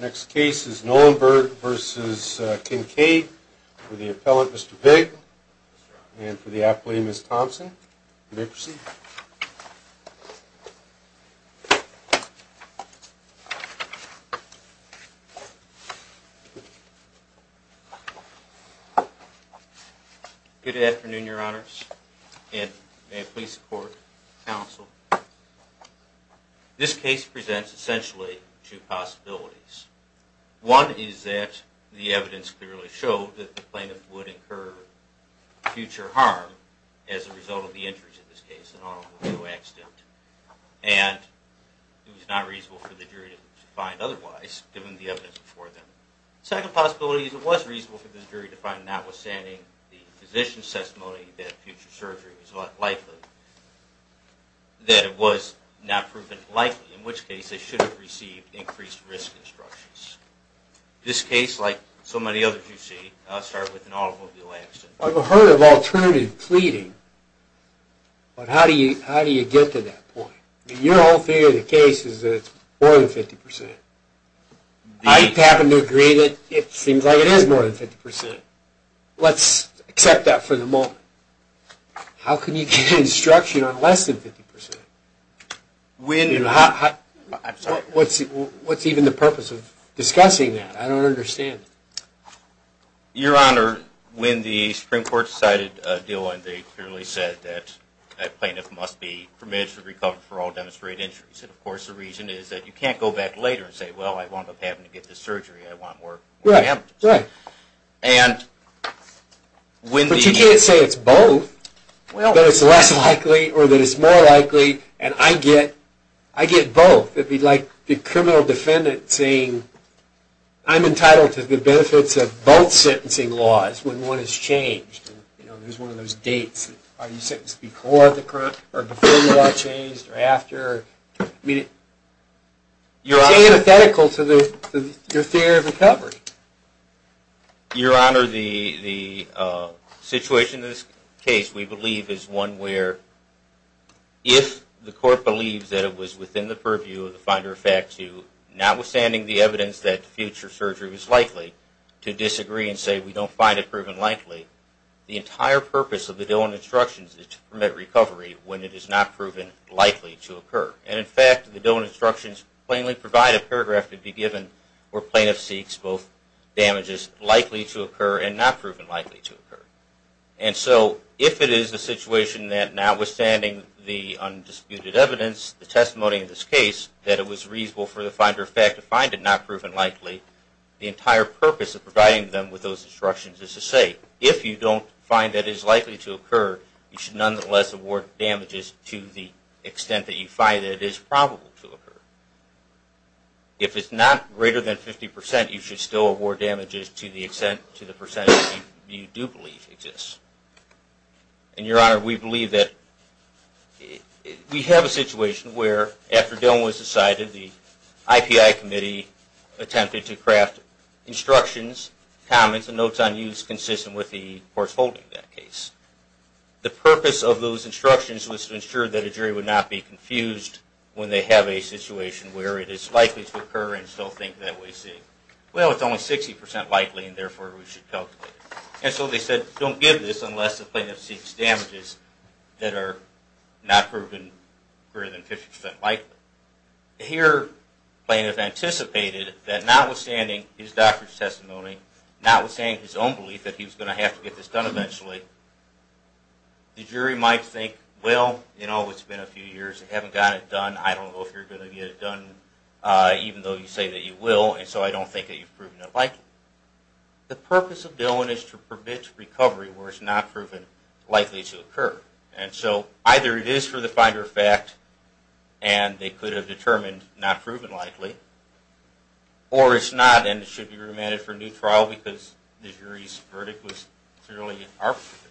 Next case is Knollenberg v. Kincade for the appellant, Mr. Pigg, and for the appellee, Ms. Thompson. You may proceed. Good afternoon, Your Honors, and may it please the court, counsel. This case presents essentially two possibilities. One is that the evidence clearly showed that the plaintiff would incur future harm as a result of the injuries in this case, an automobile accident, and it was not reasonable for the jury to find otherwise, given the evidence before them. Second possibility is it was reasonable for the jury to find, notwithstanding the physician's testimony, that future surgery was likely, that it was not proven likely, in this case, they should have received increased risk instructions. This case, like so many others you see, I'll start with an automobile accident. I've heard of alternative pleading, but how do you, how do you get to that point? Your whole theory of the case is that it's more than 50%. I happen to agree that it seems like it is more than 50%. Let's accept that for the moment. How can you get instruction on less than 50%? I'm sorry. What's even the purpose of discussing that? I don't understand. Your Honor, when the Supreme Court cited a deal and they clearly said that a plaintiff must be permitted to recover for all demonstrated injuries, and of course the reason is that you can't go back later and say, well, I wound up having to get this surgery. I want more likely, or that it's more likely, and I get, I get both. It'd be like the criminal defendant saying, I'm entitled to the benefits of both sentencing laws when one is changed. You know, there's one of those dates. Are you sentenced before the, or before the law changed, or after? I mean, it's antithetical to the, your theory of recovery. Your Honor, the, the situation in this case, we are, if the court believes that it was within the purview of the finder of fact to, notwithstanding the evidence that future surgery was likely, to disagree and say we don't find it proven likely, the entire purpose of the deal and instructions is to permit recovery when it is not proven likely to occur. And in fact, the deal and instructions plainly provide a paragraph to be given where plaintiff seeks both damages likely to occur and not proven likely to occur. Notwithstanding the undisputed evidence, the testimony of this case, that it was reasonable for the finder of fact to find it not proven likely, the entire purpose of providing them with those instructions is to say, if you don't find that it is likely to occur, you should nonetheless award damages to the extent that you find that it is probable to occur. If it's not greater than 50%, you should still award damages to the extent, to the percent that you find it. We have a situation where, after dealing was decided, the IPI committee attempted to craft instructions, comments, and notes on use consistent with the court's holding of that case. The purpose of those instructions was to ensure that a jury would not be confused when they have a situation where it is likely to occur and still think that we see, well, it's only 60% likely and therefore we should calculate it. And so they said, don't give this unless the plaintiff sees damages that are not proven greater than 50% likely. Here, the plaintiff anticipated that notwithstanding his doctor's testimony, notwithstanding his own belief that he was going to have to get this done eventually, the jury might think, well, you know, it's been a few years, they haven't got it done, I don't know if you're going to get it done even though you say that you will, and so I don't think that you've proven it likely. The court has not proven likely to occur. And so either it is for the finder of fact and they could have determined not proven likely, or it's not and it should be remanded for a new trial because the jury's verdict was clearly in our favor.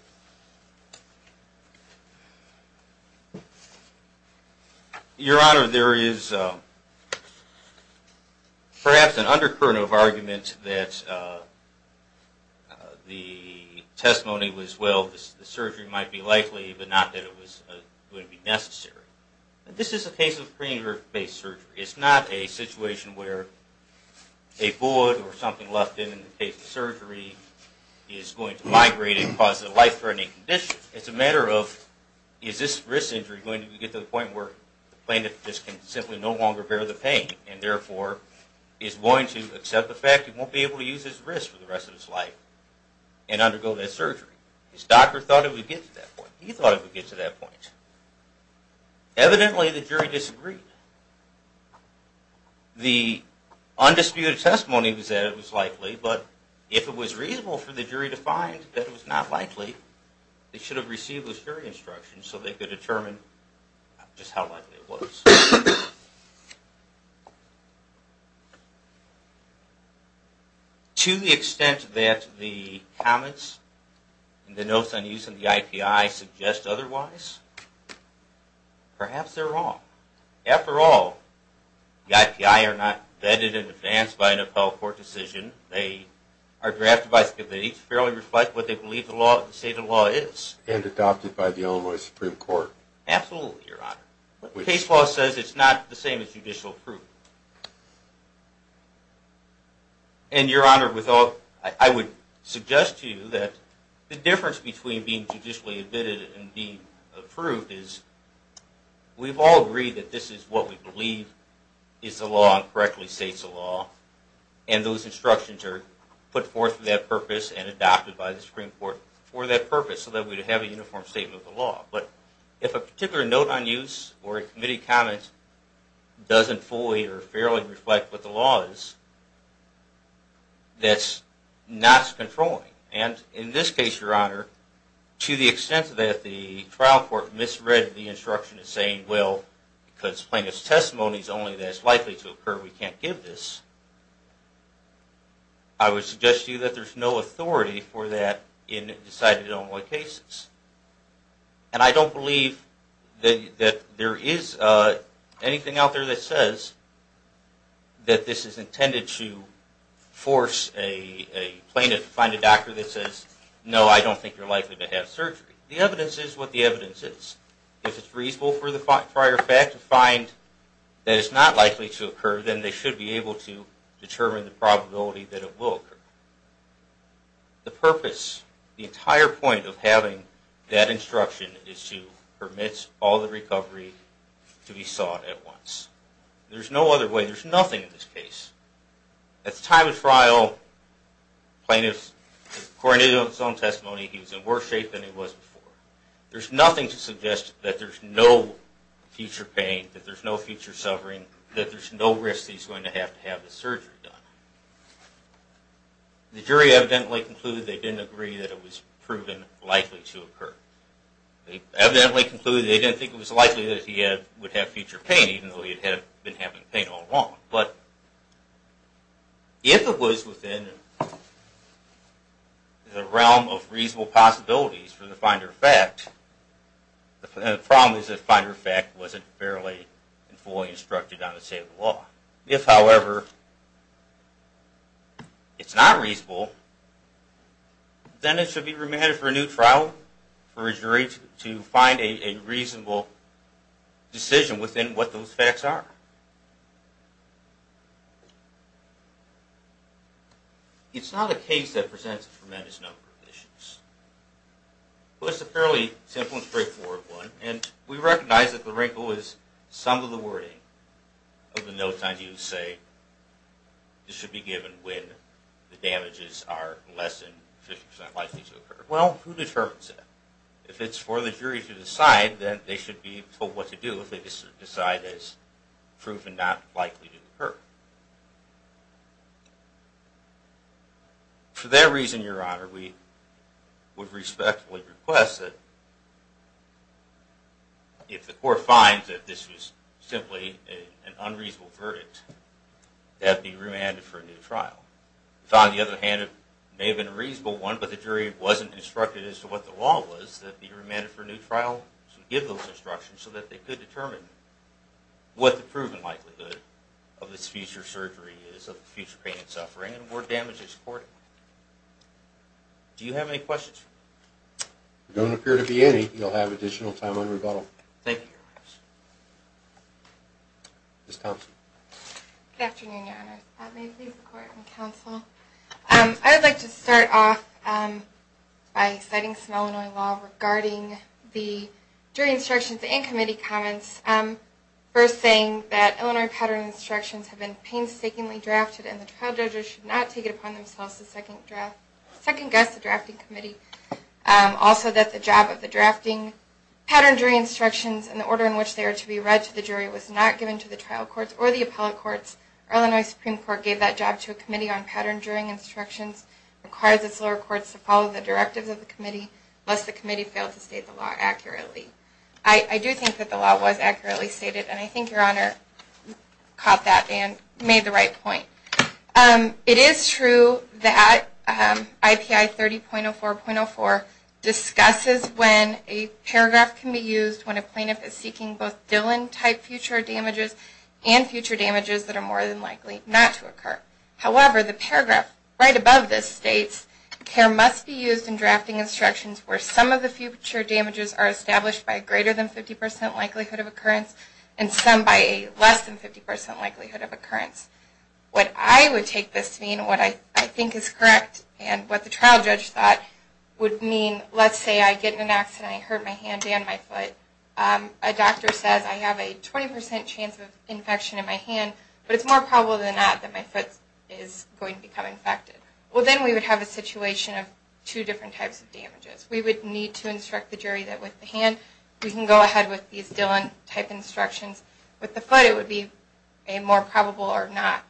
Your Honor, there is perhaps an undercurrent of argument that the testimony was, well, the surgery might be likely, but not that it was going to be necessary. This is a case of pre-injury based surgery. It's not a situation where a bullet or something left in in the case of surgery is going to migrate and cause a life-threatening condition. It's a matter of, is this wrist injury going to get to the point where the plaintiff just can simply no longer bear the pain and therefore is going to accept the fact he won't be able to use his wrist for the rest of his life and undergo that surgery. His doctor thought it would get to that point. He thought it would get to that point. Evidently, the jury disagreed. The undisputed testimony was that it was likely, but if it was reasonable for the jury to find that it was not likely, they should have received a jury instruction so they could determine just how likely it was. To the extent that the comments and the notes on use of the IPI suggest otherwise, perhaps they're wrong. After all, the IPI are not vetted in advance by an appellate court decision. They are drafted by scabbage, fairly reflect what they believe the state of the law is. And adopted by the Illinois Supreme Court. Absolutely, Your Honor. Case law says it's not the same as judicial proof. And Your Honor, I would suggest to you that the difference between being judicially admitted and being approved is we've all agreed that this is what we believe is the law and correctly states the law, and those instructions are put forth for that purpose so that we would have a uniform statement of the law. But if a particular note on use or a committee comment doesn't fully or fairly reflect what the law is, that's not controlling. And in this case, Your Honor, to the extent that the trial court misread the instruction as saying, well, because plaintiff's testimony is only that it's likely to occur, we can't give this, I would suggest to you that there's no authority for that in decided Illinois cases. And I don't believe that there is anything out there that says that this is intended to force a plaintiff to find a doctor that says, no, I don't think you're likely to have surgery. The evidence is what the evidence is. If it's reasonable for the prior fact to find that it's not likely to occur, then they should be able to determine the probability that it will occur. The purpose, the entire point of having that instruction is to permit all the recovery to be sought at once. There's no other way. There's nothing in this case. At the time of trial, plaintiff's testimony, he was in worse shape than he was before. There's nothing to suggest that there's no future pain, that there's no future going to have to have the surgery done. The jury evidently concluded they didn't agree that it was proven likely to occur. They evidently concluded they didn't think it was likely that he would have future pain, even though he had been having pain all along. But if it was within the realm of reasonable possibilities for the finder of fact, the problem is that finder of fact wasn't fairly and fully instructed on the state of the law. If, however, it's not reasonable, then it should be remanded for a new trial for a jury to find a reasonable decision within what those facts are. It's not a case that presents a tremendous number of issues. It was a fairly simple and straightforward one, and we recognize that the wrinkle is some of the wording of the notes on you say it should be given when the damages are less than 50% likely to occur. Well, who determines that? If it's for the jury to decide, then they should be told what to do if they decide it's proven not likely to occur. For that if the court finds that this was simply an unreasonable verdict, it has to be remanded for a new trial. On the other hand, it may have been a reasonable one, but the jury wasn't instructed as to what the law was, that it be remanded for a new trial should give those instructions so that they could determine what the proven likelihood of this future surgery is, of the future pain and suffering, and where damage is recorded. Do you have any questions? There don't appear to be any. I think you'll have additional time on rebuttal. Thank you, Your Honor. Ms. Thompson. Good afternoon, Your Honor. May it please the court and counsel. I'd like to start off by citing some Illinois law regarding the jury instructions and committee comments. First, saying that Illinois pattern instructions have been painstakingly drafted and the trial judges should not take it upon themselves to second-guess the drafting. Pattern jury instructions, in the order in which they are to be read to the jury, was not given to the trial courts or the appellate courts. The Illinois Supreme Court gave that job to a committee on pattern jury instructions, requires its lower courts to follow the directives of the committee, lest the committee fail to state the law accurately. I do think that the law was accurately stated and I think Your Honor caught that and made the right point. It is true that IPI 30.04.04 discusses when a paragraph can be used when a plaintiff is seeking both Dillon-type future damages and future damages that are more than likely not to occur. However, the paragraph right above this states, care must be used in drafting instructions where some of the future damages are established by greater than 50% likelihood of occurrence and some by less than 50% likelihood of occurrence. What I would take this to mean, what I think is correct and what the trial judge thought would mean, let's say I get in an accident and I hurt my hand and my foot. A doctor says I have a 20% chance of infection in my hand but it's more probable than not that my foot is going to become infected. Well then we would have a situation of two different types of damages. We would need to instruct the jury that with the hand we can go ahead with these Dillon-type instructions. With the foot it would be a more probable or not.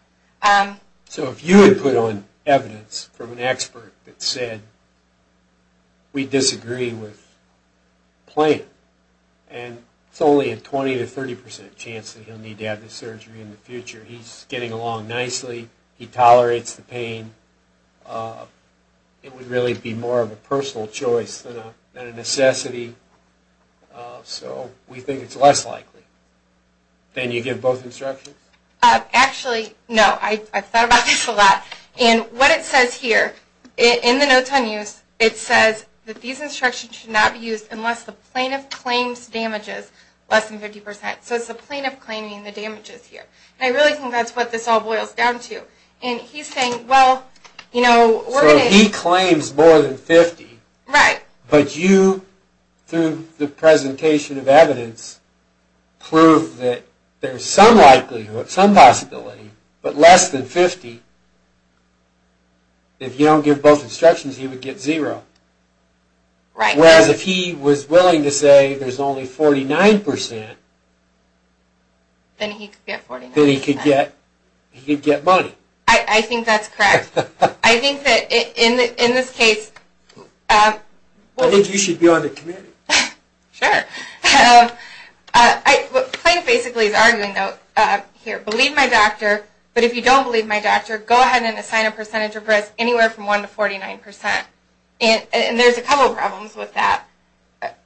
So if you had put on evidence from an expert that said we disagree with plaintiff and it's only a 20% to 30% chance that he'll need to have this surgery in the future. He's getting along nicely. He tolerates the pain. It would really be more of a personal choice than a necessity. So we think it's less likely. Then you give both instructions? Actually, no. I've thought about this a lot. What it says here in the notes on use, it says that these instructions should not be used unless the plaintiff claims damages less than 50%. So it's the plaintiff claiming the damages here. I really think that's what this all about. If the plaintiff claims more than 50% but you, through the presentation of evidence, prove that there's some likelihood, some possibility, but less than 50%, if you don't give both instructions, he would get zero. Whereas if he was willing to say there's only 49%, then he could get money. I think that's correct. I think that in this case, I think you should be on the committee. Sure. Plaintiff basically is arguing here, believe my doctor, but if you don't believe my doctor, go ahead and assign a percentage of risk anywhere from 1 to 49%. There's a couple problems with that.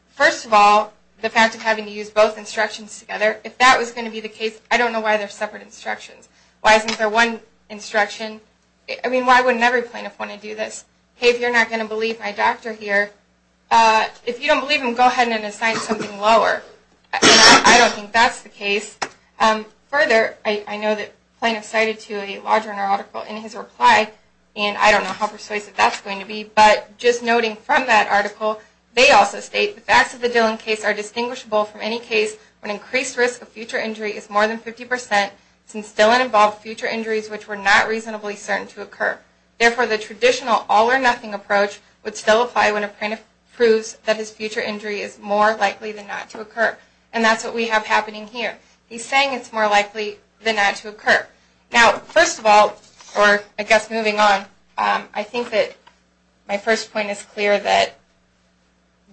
First of all, the fact of having to use both instructions together, if that was going to be the case, I don't know why they're separate instructions. Why isn't there one instruction? I mean, why wouldn't every plaintiff want to do this? Hey, if you're not going to believe my doctor here, if you don't believe him, go ahead and assign something lower. I don't think that's the case. Further, I know that the plaintiff cited to a larger article in his reply, and I don't know how persuasive that's going to be, but just noting from that article, they also state the facts of the Dillon case are distinguishable from any case when increased risk of future injury is more than 50% since Dillon involved future injuries which were not reasonably certain to occur. Therefore, the traditional all or nothing approach would still apply when a plaintiff proves that his future injury is more likely than not to occur. And that's what we have happening here. He's saying it's more likely than not to occur. Now, first of all, or I guess moving on, I think that my first point is clear that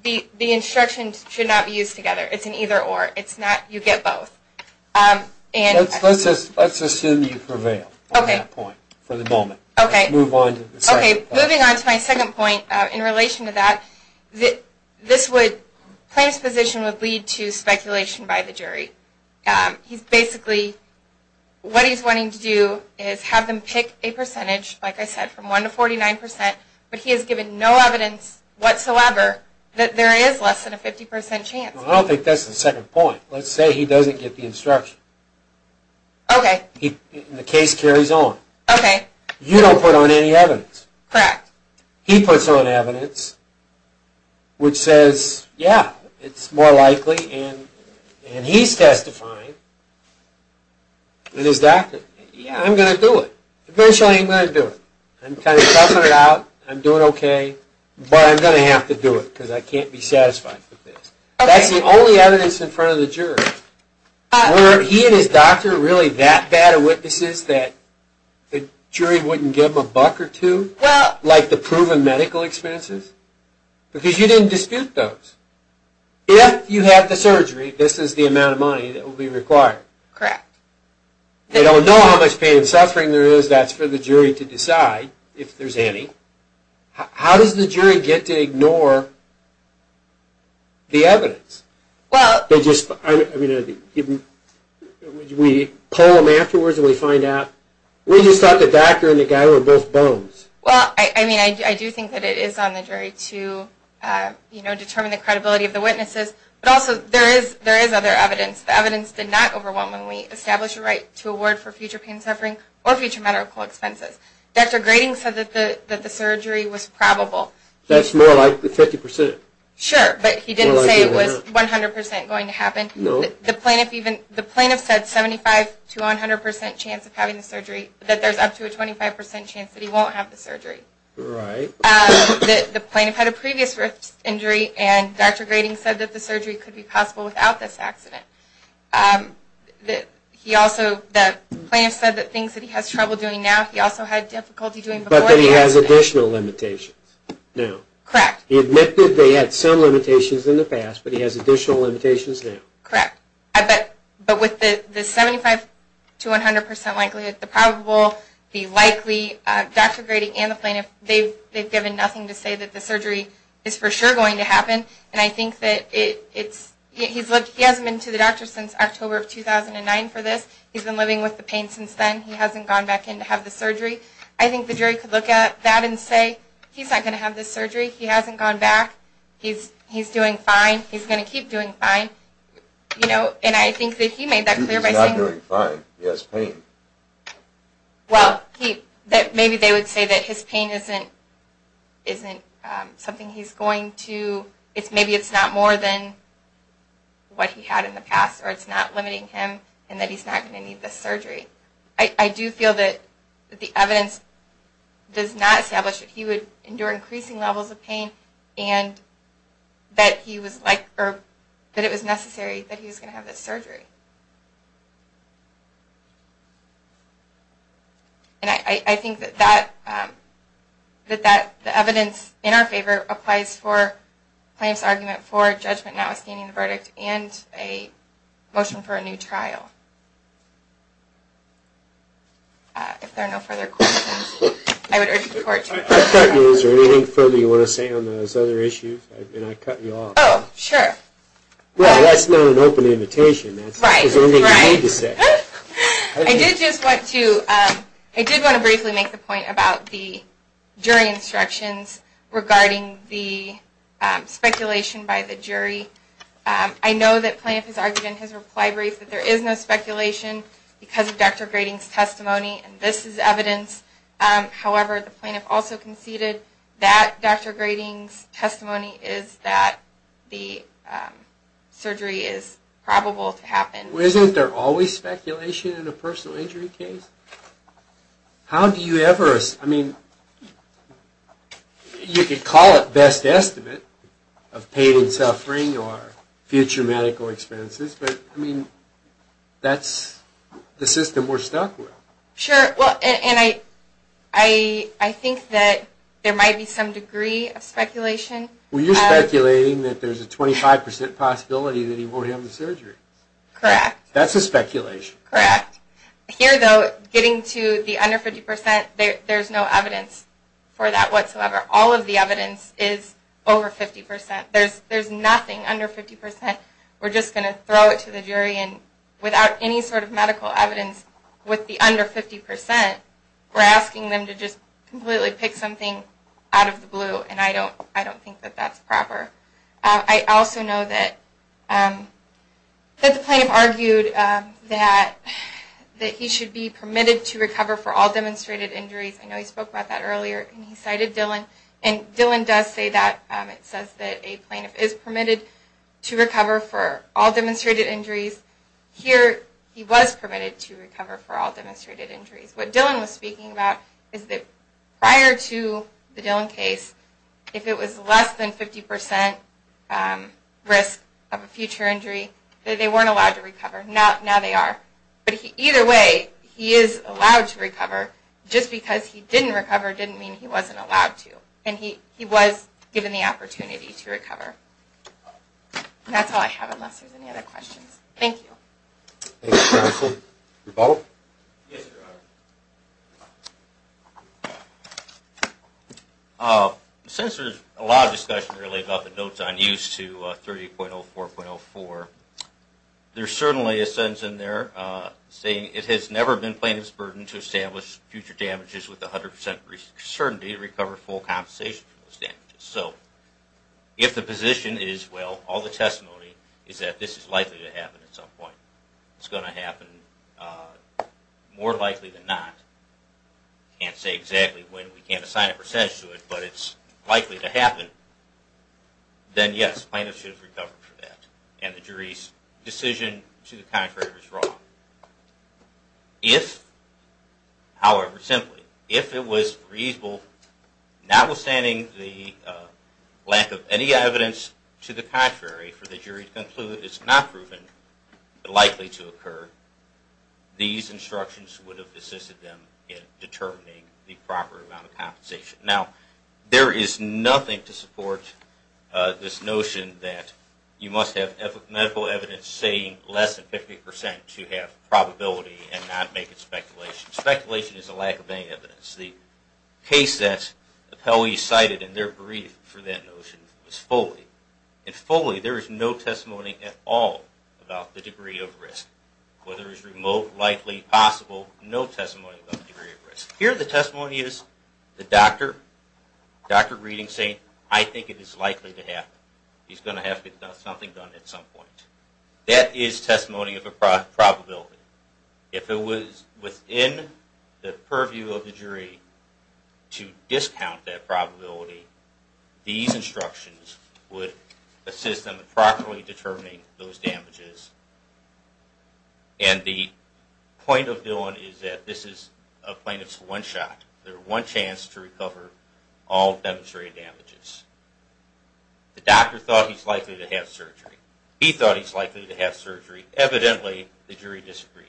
the instructions should not be used together. It's an either or. It's not you get both. Let's assume you prevail on that point for the moment. Moving on to my second point in relation to that, the plaintiff's position would lead to speculation by the jury. Basically, what he's wanting to do is have them pick a percentage, like I said, from 1 to 49%, but he has given no evidence whatsoever that there is less than a 50% chance. I don't think that's the second point. Let's say he doesn't get the instruction. Okay. The case carries on. Okay. You don't put on any evidence. Correct. He puts on evidence which says, yeah, it's more likely, and he's testifying, and his doctor, yeah, I'm gonna do it. Eventually, I'm gonna do it. I'm kind of toughing it out. I'm doing okay, but I'm gonna have to do it because I can't be satisfied with this. That's the only evidence in front of the jury. Were he and his doctor really that bad of witnesses that the jury wouldn't give them a buck or two, like the proven medical expenses? Because you didn't dispute those. If you have the surgery, this is the amount of money that will be required. Correct. They don't know how much pain and suffering there is. That's for the jury to decide, if there's any. How does the jury get to ignore the evidence? Well, they just, I mean, we poll them afterwards, and we find out. We just thought the doctor and the guy were both bones. Well, I mean, I do think that it is on the jury to, you know, determine the credibility of the witnesses, but also there is other evidence. The evidence did not overwhelmingly establish a right to award for future pain and the surgery was probable. That's more like the 50%. Sure, but he didn't say it was 100% going to happen. No. The plaintiff even, the plaintiff said 75 to 100% chance of having the surgery, that there's up to a 25% chance that he won't have the surgery. Right. The plaintiff had a previous injury, and Dr. Grading said that the surgery could be possible without this accident. He also, the plaintiff said that things that he has trouble doing now, he also had difficulty doing before the accident. But that he has additional limitations now. Correct. He admitted that he had some limitations in the past, but he has additional limitations now. Correct, but with the 75 to 100% likelihood, the probable, the likely, Dr. Grading and the plaintiff, they've given nothing to say that the surgery is for sure going to happen, and I think that it's, he hasn't been to the doctor since October of 2009 for this. He's been living with the pain since then. He hasn't gone back in to have the surgery. I think the jury could look at that and say, he's not going to have this surgery. He hasn't gone back. He's doing fine. He's going to keep doing fine. You know, and I think that he made that clear by saying... He's not doing fine. He has pain. Well, he, that maybe they would say that his pain isn't, isn't something he's going to, it's maybe it's not more than what he had in the past, or it's not limiting him, and that he's not going to need this surgery. I do feel that the evidence does not establish that he would endure increasing levels of pain, and that he was like, or that it was necessary that he was going to have this surgery, and I think that that, that the evidence in our favor applies for the plaintiff's argument for judgment not If there are no further questions, I would urge the court to... I cut you, is there anything further you want to say on those other issues? I mean, I cut you off. Oh, sure. Well, that's not an open invitation, that's all you need to say. Right, right. I did just want to, I did want to briefly make the point about the jury instructions regarding the speculation by the jury. I know that plaintiff has argued in his reply brief that there is no speculation, because of Dr. Grading's testimony, and this is evidence. However, the plaintiff also conceded that Dr. Grading's testimony is that the surgery is probable to happen. Isn't there always speculation in a personal injury case? How do you ever, I mean, you could call it best estimate of pain and suffering, or future medical expenses, but I mean, that's the system we're stuck with. Sure, well, and I think that there might be some degree of speculation. Well, you're speculating that there's a 25% possibility that he won't have the surgery. Correct. That's a speculation. Correct. Here, though, getting to the under 50%, there's no evidence for that whatsoever. All of the evidence is over 50%. There's nothing under 50%. We're just going to throw it to the jury, and without any sort of medical evidence with the under 50%, we're asking them to just completely pick something out of the blue, and I don't think that that's proper. I also know that the plaintiff argued that he should be permitted to recover for all demonstrated injuries. I know he spoke about that earlier, and he cited Dillon, and Dillon does say that. It says that a plaintiff is permitted to recover for all demonstrated injuries. Here, he was permitted to recover for all demonstrated injuries. What Dillon was speaking about is that prior to the Dillon case, if it was less than 50% risk of a future injury, that they weren't allowed to recover. Now they are, but either way, he is allowed to recover. Just because he didn't recover didn't mean he wasn't allowed to, and he was given the option to recover. That's all I have, unless there's any other questions. Thank you. Since there's a lot of discussion about the notes on use to 30.04.04, there's certainly a sentence in there saying it has never been the plaintiff's burden to establish future damages with 100% risk of certainty to recover full compensation for those damages, so if the position is, well, all the testimony is that this is likely to happen at some point. It's going to happen more likely than not. I can't say exactly when, we can't assign a percentage to it, but it's likely to happen, then yes, plaintiff should have recovered for that, and the jury's decision to the contrary is wrong. So, if, however simply, if it was reasonable, notwithstanding the lack of any evidence to the contrary for the jury to conclude it's not proven likely to occur, these instructions would have assisted them in determining the proper amount of compensation. Now, there is nothing to support this notion that you must have medical evidence saying less than 50% to have probability and not make it speculation. Speculation is a lack of any evidence. The case that the Pelley cited in their brief for that notion was Foley. In Foley, there is no testimony at all about the degree of risk, whether it's remote, likely, possible, no testimony about the degree of risk. Here, the testimony is the doctor, doctor reading, saying, I think it is likely to happen. He's going to have something done at some point. That is testimony of a probability. If it was within the purview of the jury to discount that probability, these instructions would assist them in properly determining those damages. And the point of the one is that this is a plaintiff's one shot. There is one chance to recover all demonstrated damages. The doctor thought he's likely to have surgery. He thought he's likely to have surgery. Evidently, the jury disagreed.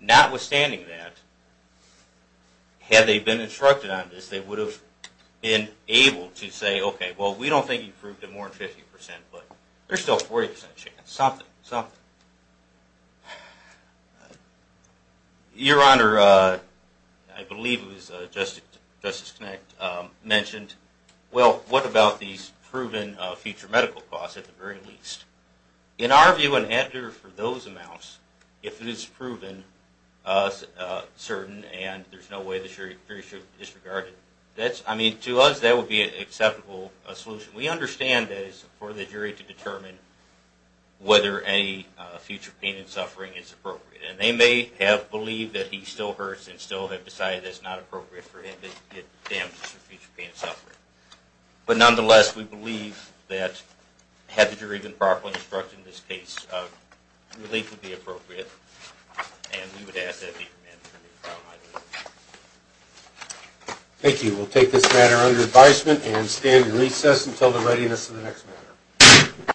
Notwithstanding that, had they been instructed on this, they would have been able to say, okay, well, we don't think you proved it more than 50%, but there's still a 40% chance, something, something. Your Honor, I believe it was Justice Knacht mentioned, well, what about these proven future medical costs, at the very least? In our view, an answer for those amounts, if it is proven certain and there's no way the jury should disregard it, to us, that would be an acceptable solution. We understand that it's for the jury to determine whether any future pain and suffering is appropriate. And they may have believed that he still hurts and still have decided that it's not appropriate for him to get damages for future pain and suffering. But nonetheless, we believe that, had the jury been properly instructed in this case, relief would be appropriate. And we would ask that he be remanded for a new trial by the jury. Thank you. We'll take this matter under advisement and stand in recess until the readiness of the next matter.